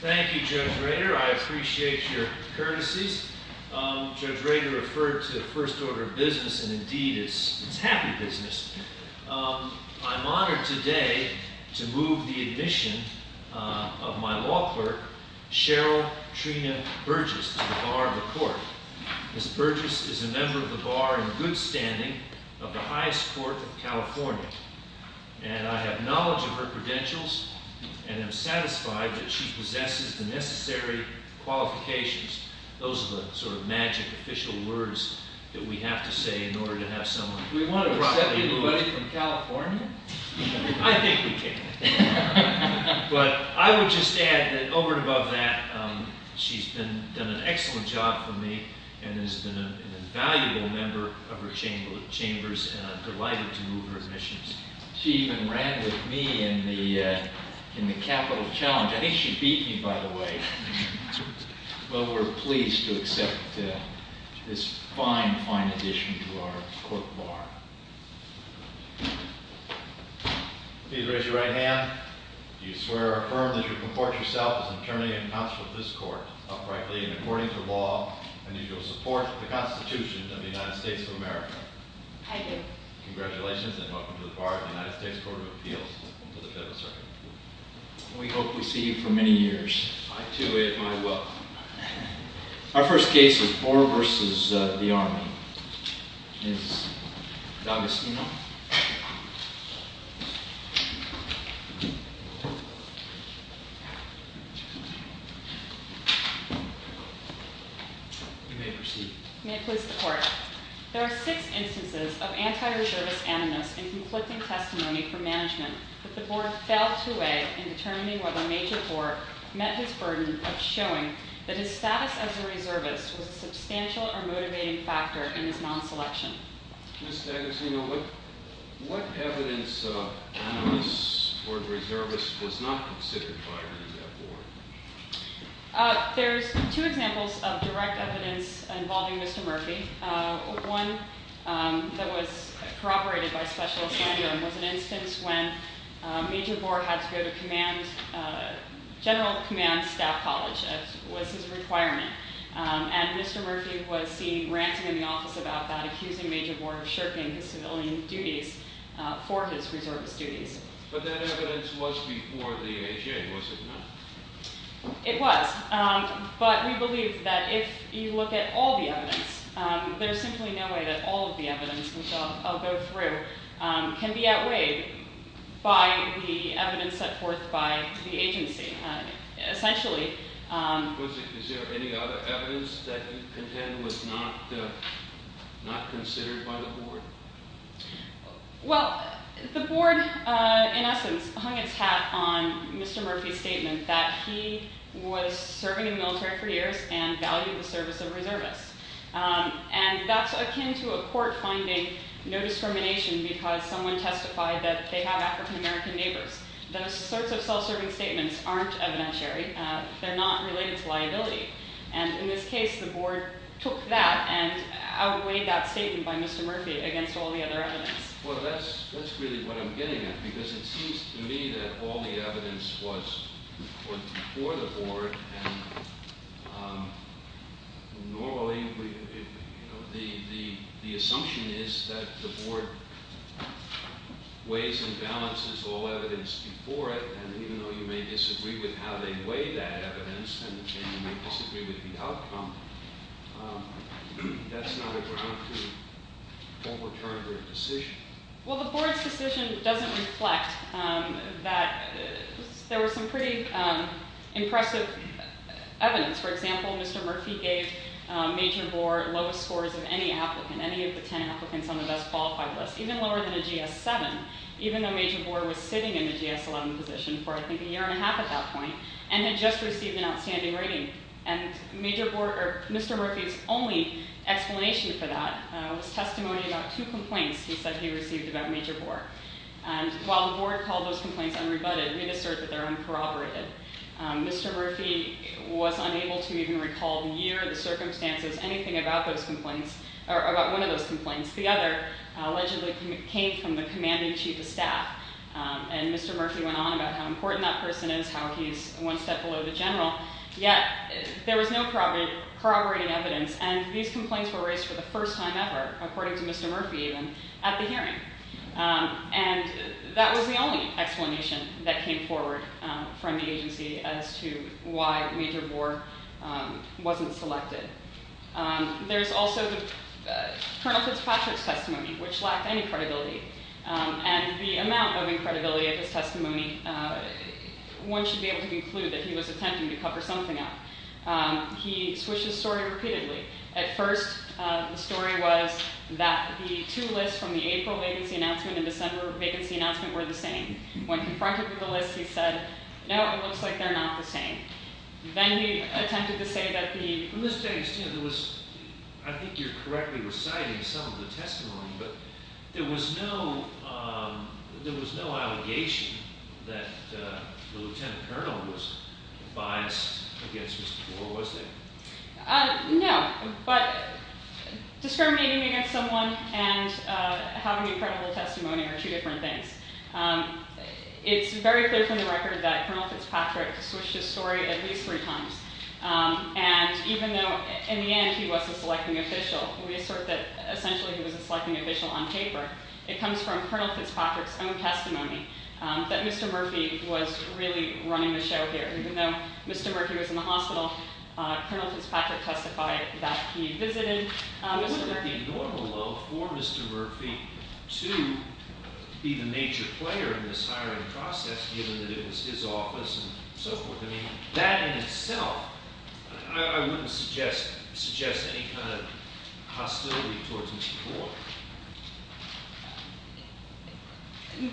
Thank you, Judge Rader. I appreciate your courtesies. Judge Rader referred to First Order of Business, and indeed it's happy business. I'm honored today to move the admission of my law clerk, Cheryl Trina Burgess, to the Bar of the Court. Ms. Burgess is a member of the Bar in good standing of the highest court of California, and I have knowledge of her credentials and am satisfied that she possesses the necessary qualifications. Those are the sort of magic official words that we have to say in order to have someone. Do we want to accept anybody from California? I think we can. But I would just add that over and above that, she's done an excellent job for me and has been an invaluable member of her chambers, and I'm delighted to move her admissions. She even ran with me in the capital challenge. I think she beat me, by the way. Well, we're pleased to accept this fine, fine addition to our court bar. Please raise your right hand if you swear or affirm that you comport yourself as an attorney and counsel of this court, uprightly and according to law, and that you will support the Constitution of the United States of America. I do. Congratulations, and welcome to the Bar of the United States Court of Appeals to the Federal Circuit. We hope we see you for many years. Our first case is Boer v. The Army. Ms. D'Agostino. You may proceed. May it please the Court. There are six instances of anti-reservist animus in conflicting testimony from management that the Board failed to weigh in determining whether Major Boer met his burden of showing that his status as a reservist was a substantial or motivating factor in his non-selection. Ms. D'Agostino, what evidence of animus or reservist was not considered by the Board? There's two examples of direct evidence involving Mr. Murphy. One that was corroborated by Special Assignment was an instance when Major Boer had to go to General Command Staff College, as was his requirement, and Mr. Murphy was seen ranting in the office about that, accusing Major Boer of shirking his civilian duties for his reservist duties. But that evidence was before the AHA, was it not? It was. But we believe that if you look at all the evidence, there's simply no way that all of the evidence which I'll go through can be outweighed by the evidence set forth by the agency. Essentially... Is there any other evidence that you contend was not considered by the Board? Well, the Board, in essence, hung its hat on Mr. Murphy's statement that he was serving in the military for years and valued the service of reservists. And that's akin to a court finding no discrimination because someone testified that they have African-American neighbors. Those sorts of self-serving statements aren't evidentiary. They're not related to liability. And in this case, the Board took that and outweighed that statement by Mr. Murphy against all the other evidence. Well, that's really what I'm getting at, because it seems to me that all the evidence was before the Board. And normally, the assumption is that the Board weighs and balances all evidence before it. And even though you may disagree with how they weigh that evidence and you may disagree with the outcome, that's not a return to a decision. Well, the Board's decision doesn't reflect that there was some pretty impressive evidence. For example, Mr. Murphy gave Major Bohr lowest scores of any applicant, any of the ten applicants on the Best Qualified list, even lower than a GS-7, even though Major Bohr was sitting in the GS-11 position for, I think, a year and a half at that point and had just received an outstanding rating. And Mr. Murphy's only explanation for that was testimony about two complaints he said he received about Major Bohr. And while the Board called those complaints unrebutted, it did assert that they're uncorroborated. Mr. Murphy was unable to even recall the year, the circumstances, anything about one of those complaints. The other allegedly came from the commanding chief of staff. And Mr. Murphy went on about how important that person is, how he's one step below the general. Yet there was no corroborating evidence, and these complaints were raised for the first time ever, according to Mr. Murphy even, at the hearing. And that was the only explanation that came forward from the agency as to why Major Bohr wasn't selected. There's also Colonel Fitzpatrick's testimony, which lacked any credibility. And the amount of credibility of his testimony, one should be able to conclude that he was attempting to cover something up. He switches story repeatedly. At first, the story was that the two lists from the April vacancy announcement and December vacancy announcement were the same. When confronted with the list, he said, no, it looks like they're not the same. Then he attempted to say that the- I think you're correctly reciting some of the testimony, but there was no allegation that the lieutenant colonel was biased against Mr. Bohr, was there? No, but discriminating against someone and having incredible testimony are two different things. It's very clear from the record that Colonel Fitzpatrick switched his story at least three times. And even though in the end he was a selecting official, we assert that essentially he was a selecting official on paper. It comes from Colonel Fitzpatrick's own testimony that Mr. Murphy was really running the show here. Even though Mr. Murphy was in the hospital, Colonel Fitzpatrick testified that he visited Mr. Murphy. Is that the normal level for Mr. Murphy to be the major player in this hiring process, given that it was his office and so forth? I mean, that in itself, I wouldn't suggest any kind of hostility towards Mr. Bohr.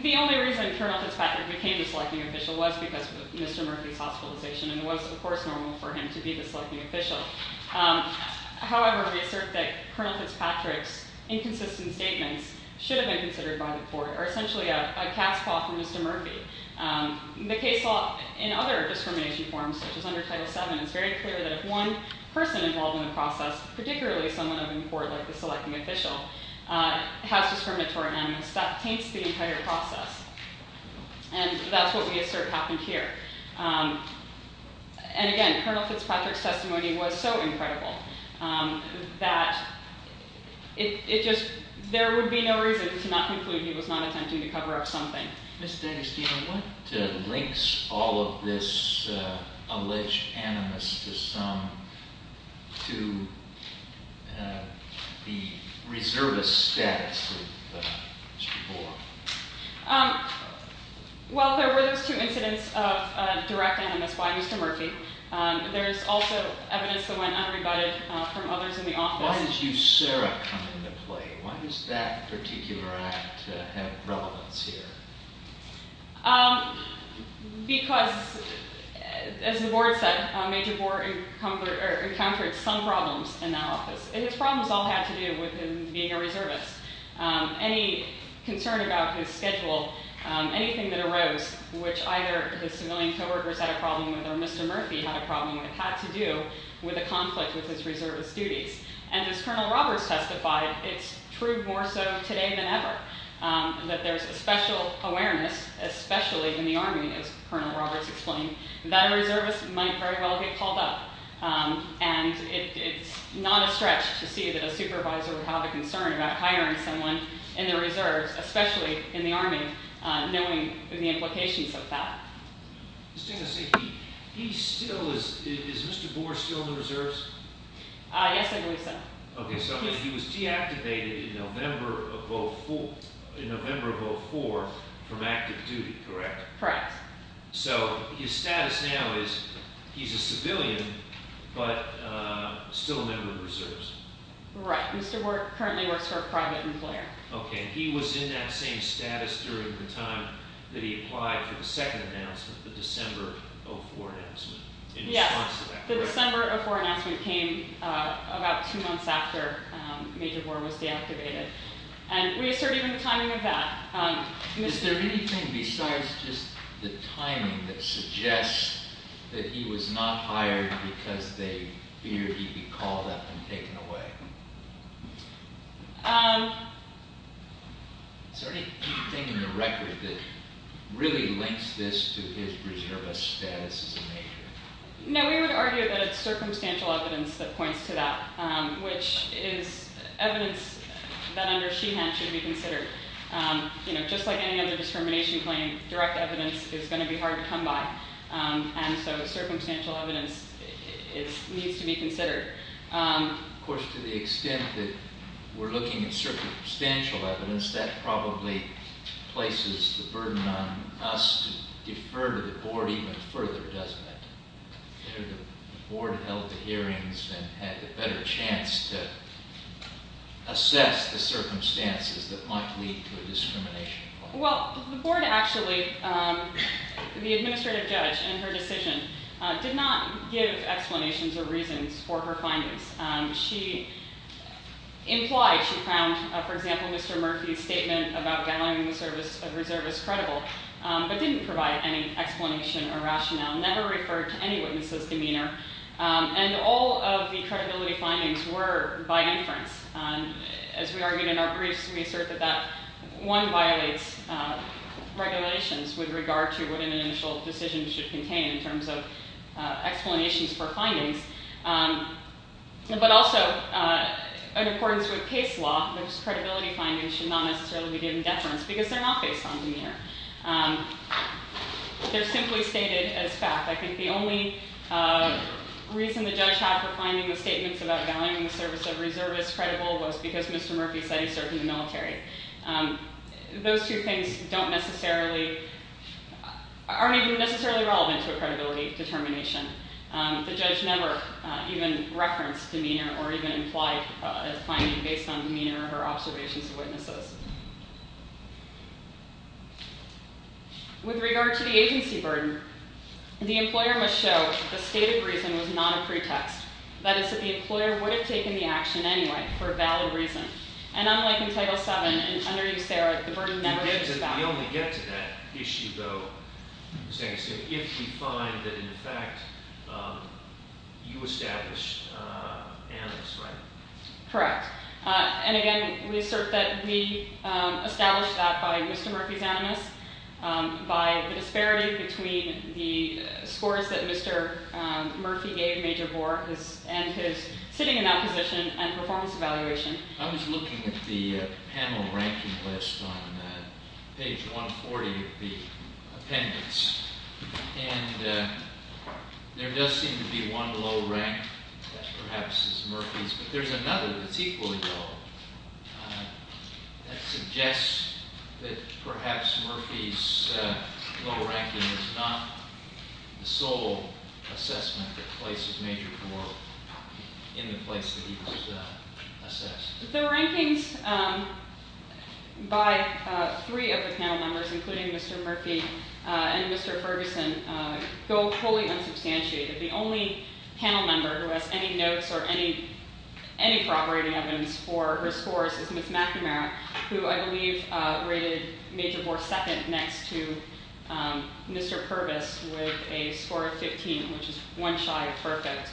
The only reason Colonel Fitzpatrick became the selecting official was because of Mr. Murphy's hospitalization, and it was, of course, normal for him to be the selecting official. However, we assert that Colonel Fitzpatrick's inconsistent statements should have been considered by the court, or essentially a cast call from Mr. Murphy. The case law in other discrimination forms, such as under Title VII, it's very clear that if one person involved in the process, particularly someone in court like the selecting official, has discriminatory animus, that taints the entire process. And that's what we assert happened here. And again, Colonel Fitzpatrick's testimony was so incredible that there would be no reason to not conclude he was not attempting to cover up something. Ms. Dennis, do you know what links all of this alleged animus to the reservist status of Mr. Bohr? Well, there were those two incidents of direct animus by Mr. Murphy. There's also evidence that went unrebutted from others in the office. Why did you, Sarah, come into play? Why does that particular act have relevance here? Because, as the board said, Major Bohr encountered some problems in that office. And his problems all had to do with him being a reservist. Any concern about his schedule, anything that arose, which either his civilian co-workers had a problem with, or Mr. Murphy had a problem with, had to do with a conflict with his reservist duties. And as Colonel Roberts testified, it's true more so today than ever, that there's a special awareness, especially in the Army, as Colonel Roberts explained, that a reservist might very well get called up. And it's not a stretch to see that a supervisor would have a concern about hiring someone in the Reserves, especially in the Army, knowing the implications of that. Ms. Dennis, is Mr. Bohr still in the Reserves? Yes, I believe so. Okay, so he was deactivated in November of 2004 from active duty, correct? Correct. So his status now is, he's a civilian, but still a member of the Reserves. Right. Mr. Bohr currently works for a private employer. Okay, and he was in that same status during the time that he applied for the second announcement, the December 2004 announcement, in response to that. Yes, the December 2004 announcement came about two months after Major Bohr was deactivated. And we assert even the timing of that. Is there anything besides just the timing that suggests that he was not hired because they feared he'd be called up and taken away? Is there anything in the record that really links this to his reservist status as a Major? No, we would argue that it's circumstantial evidence that points to that, which is evidence that under Sheehan should be considered. You know, just like any other discrimination claim, direct evidence is going to be hard to come by. And so circumstantial evidence needs to be considered. Of course, to the extent that we're looking at circumstantial evidence, that probably places the burden on us to defer to the Board even further, doesn't it? The Board held the hearings and had a better chance to assess the circumstances that might lead to a discrimination claim. Well, the Board actually, the administrative judge in her decision, did not give explanations or reasons for her findings. She implied she found, for example, Mr. Murphy's statement about gallowing the service of reservists credible, but didn't provide any explanation or rationale, never referred to any witness's demeanor. And all of the credibility findings were by inference. As we argued in our briefs, we assert that that, one, violates regulations with regard to what an initial decision should contain in terms of explanations for findings. But also, in accordance with case law, those credibility findings should not necessarily be given deference because they're not based on demeanor. They're simply stated as fact. I think the only reason the judge had for finding the statements about gallowing the service of reservists credible was because Mr. Murphy said he served in the military. Those two things don't necessarily, aren't even necessarily relevant to a credibility determination. The judge never even referenced demeanor or even implied a finding based on demeanor or observations of witnesses. With regard to the agency burden, the employer must show the stated reason was not a pretext. That is, that the employer would have taken the action anyway for a valid reason. And unlike in Title VII and under eUSERA, the burden never shifts back. We only get to that issue, though, if we find that, in fact, you established animus, right? Correct. And again, we assert that we established that by Mr. Murphy's animus, by the disparity between the scores that Mr. Murphy gave Major Bohr and his sitting in that position and performance evaluation. I was looking at the panel ranking list on page 140 of the appendix, and there does seem to be one low rank that perhaps is Murphy's, but there's another that's equally low that suggests that perhaps Murphy's low ranking is not the sole assessment that places Major Bohr in the place that he was assessed. The rankings by three of the panel members, including Mr. Murphy and Mr. Ferguson, go wholly unsubstantiated. The only panel member who has any notes or any corroborating evidence for her scores is Ms. McNamara, who I believe rated Major Bohr second next to Mr. Purvis with a score of 15, which is one shy of perfect.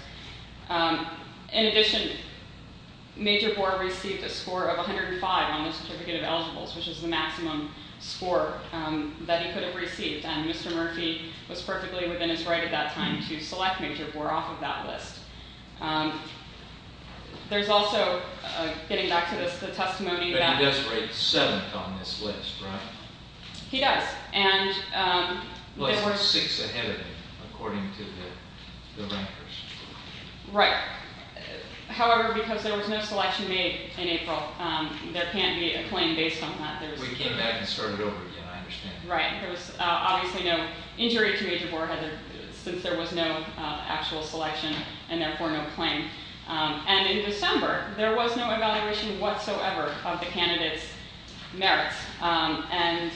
In addition, Major Bohr received a score of 105 on the certificate of eligibles, which is the maximum score that he could have received, and Mr. Murphy was perfectly within his right at that time to select Major Bohr off of that list. There's also, getting back to the testimony— But he does rate seventh on this list, right? He does, and— According to the rankers. Right. However, because there was no selection made in April, there can't be a claim based on that. We came back and started over again, I understand. Right. There was obviously no injury to Major Bohr since there was no actual selection and therefore no claim. And in December, there was no evaluation whatsoever of the candidate's merits, and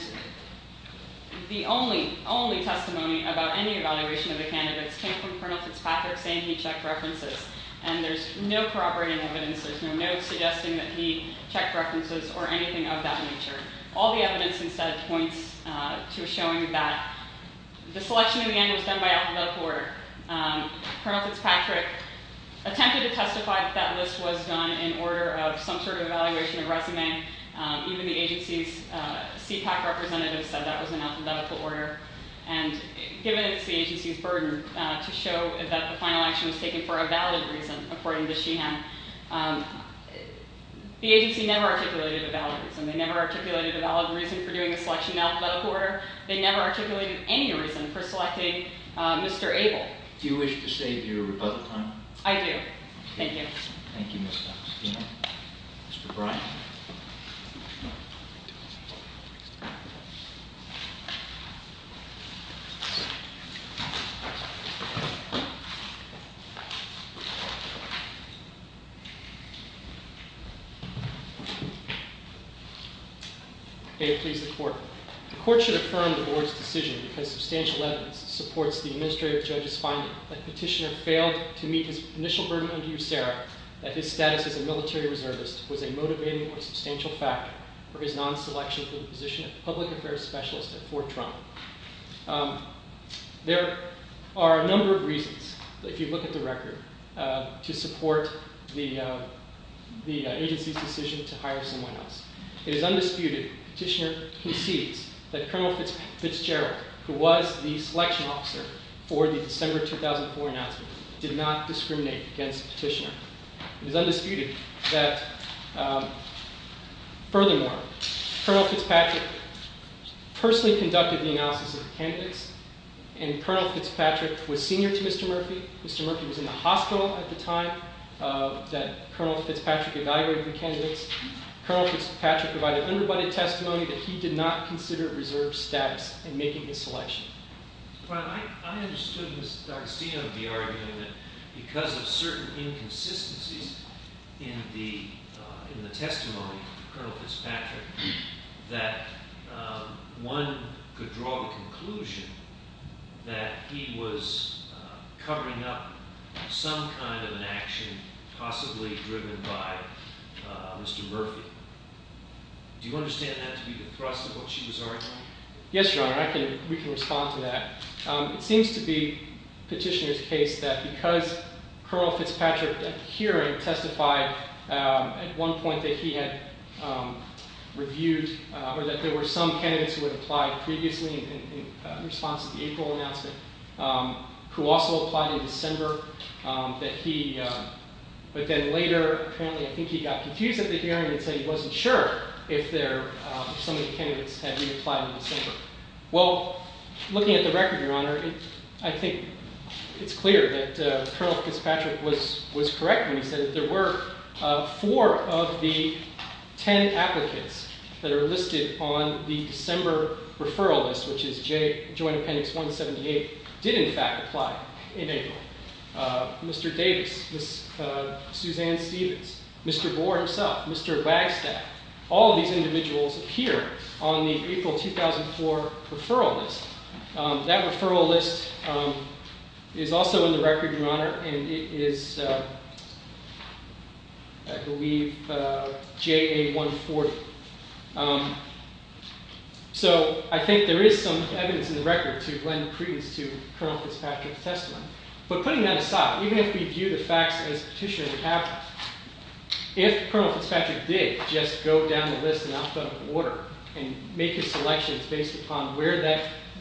the only, only testimony about any evaluation of the candidates came from Colonel Fitzpatrick saying he checked references, and there's no corroborating evidence. There's no notes suggesting that he checked references or anything of that nature. All the evidence, instead, points to showing that the selection in the end was done by alphabetical order. Colonel Fitzpatrick attempted to testify that that list was done in order of some sort of evaluation of resume. Even the agency's CPAC representative said that was in alphabetical order. And given it's the agency's burden to show that the final action was taken for a valid reason, according to Sheehan, the agency never articulated a valid reason. They never articulated a valid reason for doing a selection in alphabetical order. They never articulated any reason for selecting Mr. Abel. Do you wish to save your rebuttal time? I do. Thank you. Thank you, Mr. Epstein. Mr. Bryan. May it please the Court. The Court should affirm the Board's decision because substantial evidence supports the Administrative Judge's finding that Petitioner failed to meet his initial burden under USERRA, that his status as a military reservist was a motivating or substantial factor for his non-selection from the position of Public Affairs Specialist at Fort Trump. There are a number of reasons, if you look at the record, to support the agency's decision to hire someone else. It is undisputed that Petitioner concedes that Colonel Fitzgerald, who was the selection officer for the December 2004 announcement, did not discriminate against Petitioner. It is undisputed that, furthermore, Colonel Fitzpatrick personally conducted the analysis of the candidates, and Colonel Fitzpatrick was senior to Mr. Murphy. Mr. Murphy was in the hospital at the time that Colonel Fitzpatrick evaluated the candidates. Colonel Fitzpatrick provided underbudgeted testimony that he did not consider reserve status in making his selection. Well, I understood, Mr. Epstein, of the argument that because of certain inconsistencies in the testimony of Colonel Fitzpatrick, that one could draw the conclusion that he was covering up some kind of an action possibly driven by Mr. Murphy. Do you understand that to be the thrust of what she was arguing? Yes, Your Honor, we can respond to that. It seems to be Petitioner's case that because Colonel Fitzpatrick at the hearing testified at one point that he had reviewed, or that there were some candidates who had applied previously in response to the April announcement, who also applied in December, but then later, apparently, I think he got confused at the hearing and said he wasn't sure if some of the candidates had reapplied in December. Well, looking at the record, Your Honor, I think it's clear that Colonel Fitzpatrick was correct when he said that there were four of the ten applicants that are listed on the December referral list, which is Joint Appendix 178, did in fact apply in April. Mr. Davis, Suzanne Stevens, Mr. Boer himself, Mr. Wagstaff, all of these individuals appear on the April 2004 referral list. That referral list is also in the record, Your Honor, and it is, I believe, JA 140. So I think there is some evidence in the record to lend credence to Colonel Fitzpatrick's testimony. But putting that aside, even if we view the facts as Petitioner would have, if Colonel Fitzpatrick did just go down the list in alphabetical order and make his selections based upon where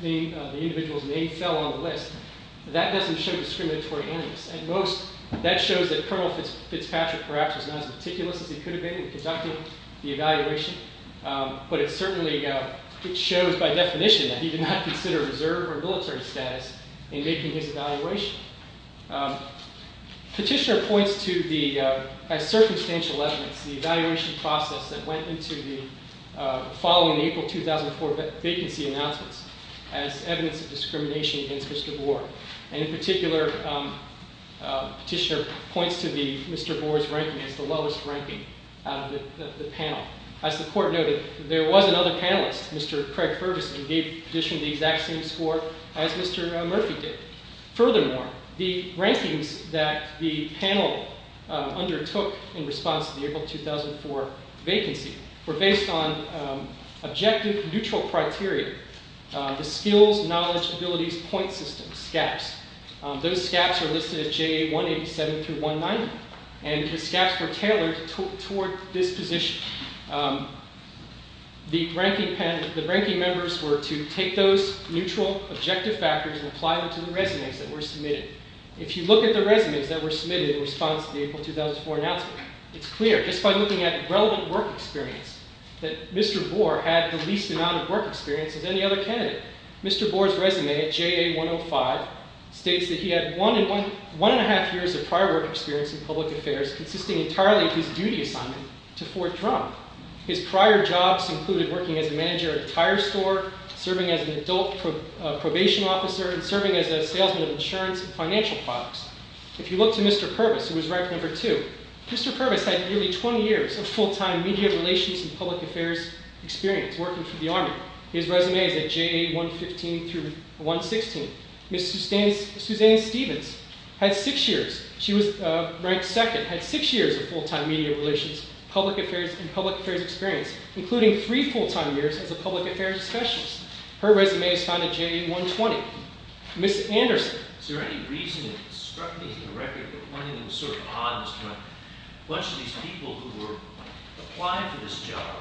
the individual's name fell on the list, that doesn't show discriminatory animus. At most, that shows that Colonel Fitzpatrick perhaps was not as meticulous as he could have been in conducting the evaluation, but it certainly shows by definition that he did not consider reserve or military status in making his evaluation. Petitioner points to the circumstantial evidence, the evaluation process that went into the following April 2004 vacancy announcements And in particular, Petitioner points to Mr. Boer's ranking as the lowest ranking out of the panel. As the Court noted, there was another panelist, Mr. Craig Ferguson, who gave Petitioner the exact same score as Mr. Murphy did. Furthermore, the rankings that the panel undertook in response to the April 2004 vacancy were based on objective neutral criteria, the skills, knowledge, abilities, point systems, SCAPs. Those SCAPs are listed at JA 187-190, and the SCAPs were tailored toward this position. The ranking members were to take those neutral objective factors and apply them to the resumes that were submitted. If you look at the resumes that were submitted in response to the April 2004 announcement, it's clear just by looking at relevant work experience that Mr. Boer had the least amount of work experience as any other candidate. Mr. Boer's resume at JA 105 states that he had one and a half years of prior work experience in public affairs consisting entirely of his duty assignment to Fort Drum. His prior jobs included working as a manager at a tire store, serving as an adult probation officer, and serving as a salesman of insurance and financial products. If you look to Mr. Purvis, who was ranked number two, Mr. Purvis had nearly 20 years of full-time media relations and public affairs experience working for the Army. His resume is at JA 115-116. Ms. Susanne Stevens, ranked second, had six years of full-time media relations, public affairs, and public affairs experience, including three full-time years as a public affairs specialist. Her resume is found at JA 120. Ms. Anderson. Is there any reason that it struck me as a record that one of the sort of odds when a bunch of these people who were applying for this job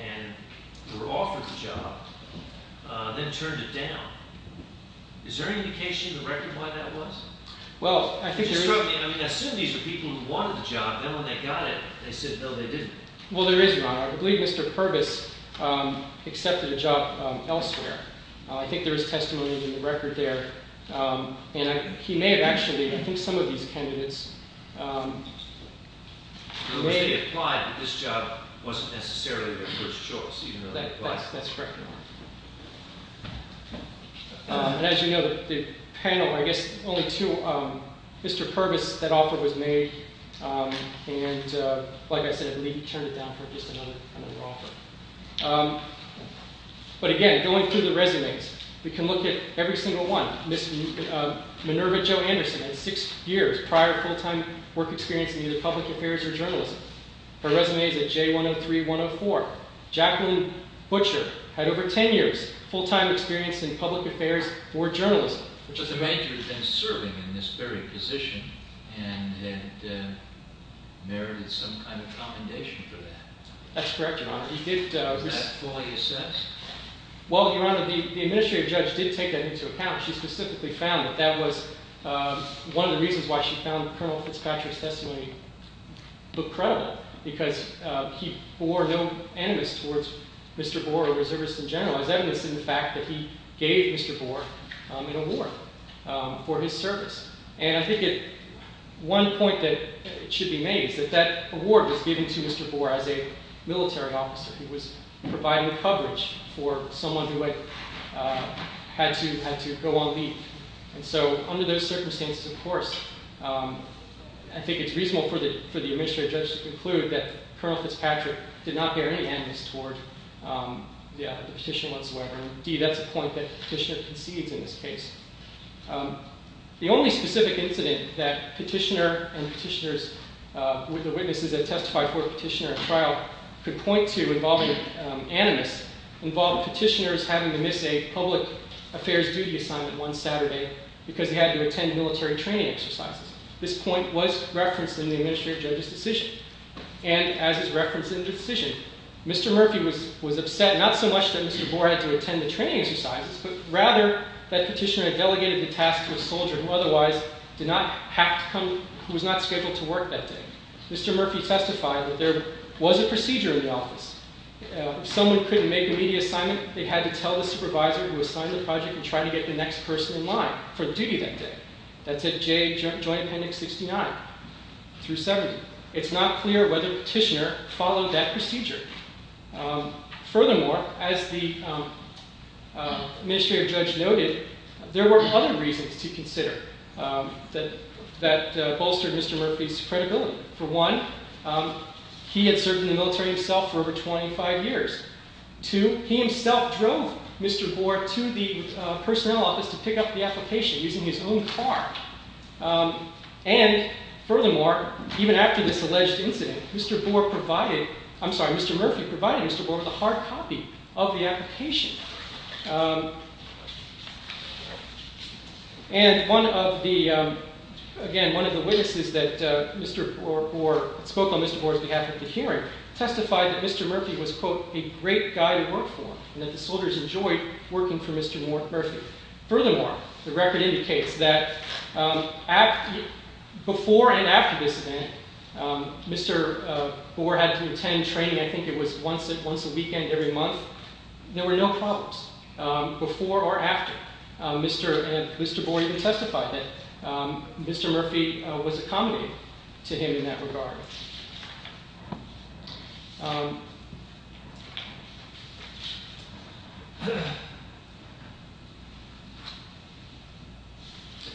and were offered the job then turned it down. Is there any indication in the record why that was? Well, I think there is. I mean, I assume these were people who wanted the job. Then when they got it, they said, no, they didn't. Well, there is, Your Honor. I believe Mr. Purvis accepted a job elsewhere. I think there is testimony in the record there. And he may have actually, I think some of these candidates may have. It may be implied that this job wasn't necessarily their first choice, even though they applied. That's correct, Your Honor. And as you know, the panel, I guess only two, Mr. Purvis, that offer was made. And like I said, I believe he turned it down for just another offer. But again, going through the resumes, we can look at every single one. Ms. Minerva Jo Anderson had six years prior full-time work experience in either public affairs or journalism. Her resume is at J103-104. Jacqueline Butcher had over ten years full-time experience in public affairs or journalism. Which is to make you have been serving in this very position and had merited some kind of compendation for that. That's correct, Your Honor. Was that fully assessed? Well, Your Honor, the administrative judge did take that into account. She specifically found that that was one of the reasons why she found Colonel Fitzpatrick's testimony credible. Because he bore no animus towards Mr. Boer or reservists in general. As evidenced in the fact that he gave Mr. Boer an award for his service. And I think one point that should be made is that that award was given to Mr. Boer as a military officer. He was providing coverage for someone who had to go on leave. And so under those circumstances, of course, I think it's reasonable for the administrative judge to conclude that Colonel Fitzpatrick did not bear any animus toward the petition whatsoever. Indeed, that's a point that the petitioner concedes in this case. The only specific incident that the witnesses that testified for the petitioner at trial could point to involving animus involved petitioners having to miss a public affairs duty assignment one Saturday because they had to attend military training exercises. This point was referenced in the administrative judge's decision. And as is referenced in the decision, Mr. Murphy was upset not so much that Mr. Boer had to attend the training exercises, but rather that petitioner had delegated the task to a soldier who was not scheduled to work that day. Mr. Murphy testified that there was a procedure in the office. If someone couldn't make a media assignment, they had to tell the supervisor who assigned the project and try to get the next person in line for duty that day. That's at Joint Appendix 69 through 70. Furthermore, as the administrative judge noted, there were other reasons to consider that bolstered Mr. Murphy's credibility. For one, he had served in the military himself for over 25 years. Two, he himself drove Mr. Boer to the personnel office to pick up the application using his own car. And furthermore, even after this alleged incident, Mr. Murphy provided Mr. Boer with a hard copy of the application. And again, one of the witnesses that spoke on Mr. Boer's behalf at the hearing testified that Mr. Murphy was, quote, a great guy to work for and that the soldiers enjoyed working for Mr. Murphy. Furthermore, the record indicates that before and after this event, Mr. Boer had to attend training. I think it was once a weekend every month. There were no problems before or after Mr. Boer even testified that Mr. Murphy was accommodating to him in that regard.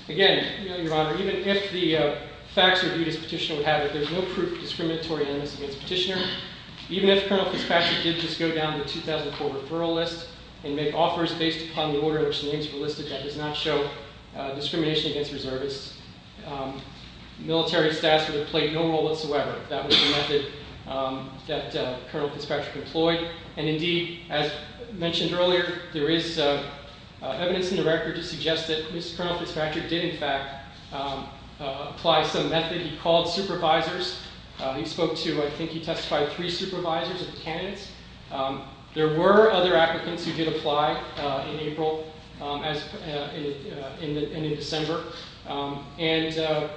Again, Your Honor, even if the facts reviewed as petitioner would have it, there's no proof of discriminatory animus against petitioner. Even if Colonel Fitzpatrick did just go down the 2004 referral list and make offers based upon the order in which the names were listed, that does not show discrimination against reservists. Military status would have played no role whatsoever if that was the method that Colonel Fitzpatrick employed. And indeed, as mentioned earlier, there is evidence in the record to suggest that Colonel Fitzpatrick did, in fact, apply some method. He called supervisors. He spoke to, I think he testified, three supervisors of the candidates. There were other applicants who did apply in April and in December. And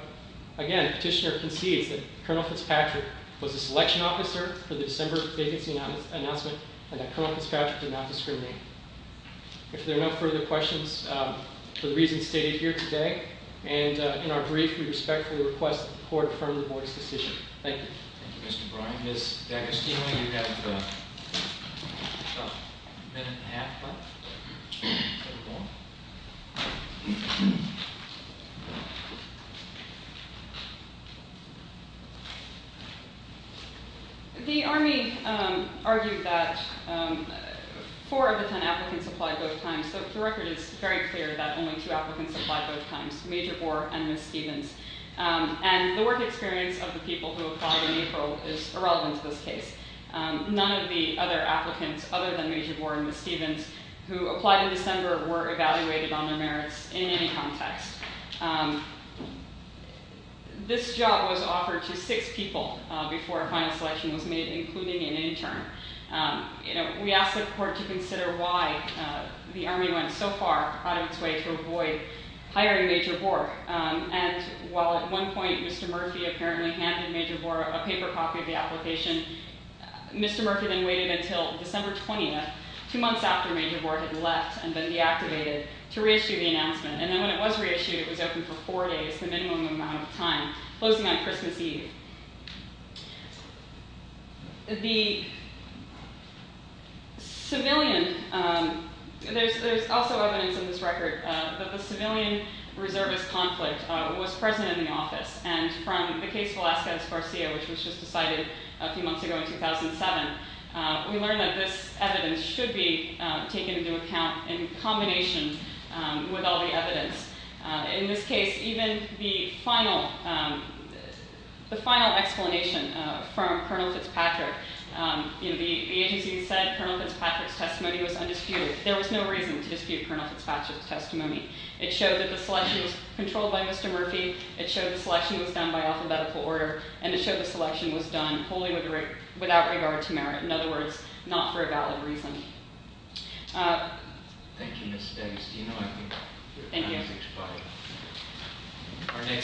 again, petitioner concedes that Colonel Fitzpatrick was a selection officer for the December vacancy announcement and that Colonel Fitzpatrick did not discriminate. If there are no further questions, for the reasons stated here today and in our brief, we respectfully request that the Court affirm the Board's decision. Thank you. Thank you, Mr. Bryan. Ms. Decker-Steele, you have about a minute and a half left. The Army argued that four of the ten applicants applied both times. The record is very clear that only two applicants applied both times, Major Bohr and Ms. Stevens. And the work experience of the people who applied in April is irrelevant to this case. None of the other applicants other than Major Bohr and Ms. Stevens, who applied in December, were evaluated on their merits in any context. This job was offered to six people before a final selection was made, including an intern. We ask the Court to consider why the Army went so far out of its way to avoid hiring Major Bohr. And while at one point Mr. Murphy apparently handed Major Bohr a paper copy of the application, Mr. Murphy then waited until December 20th, two months after Major Bohr had left and been deactivated, to reissue the announcement. And then when it was reissued, it was open for four days, the minimum amount of time, closing on Christmas Eve. There's also evidence in this record that the civilian reservist conflict was present in the office. And from the case of Velazquez-Garcia, which was just decided a few months ago in 2007, we learned that this evidence should be taken into account in combination with all the evidence. In this case, even the final explanation from Col. Fitzpatrick, the agency said Col. Fitzpatrick's testimony was undisputed. There was no reason to dispute Col. Fitzpatrick's testimony. It showed that the selection was controlled by Mr. Murphy, it showed the selection was done by alphabetical order, and it showed the selection was done wholly without regard to merit, in other words, not for a valid reason. Thank you, Ms. Davis.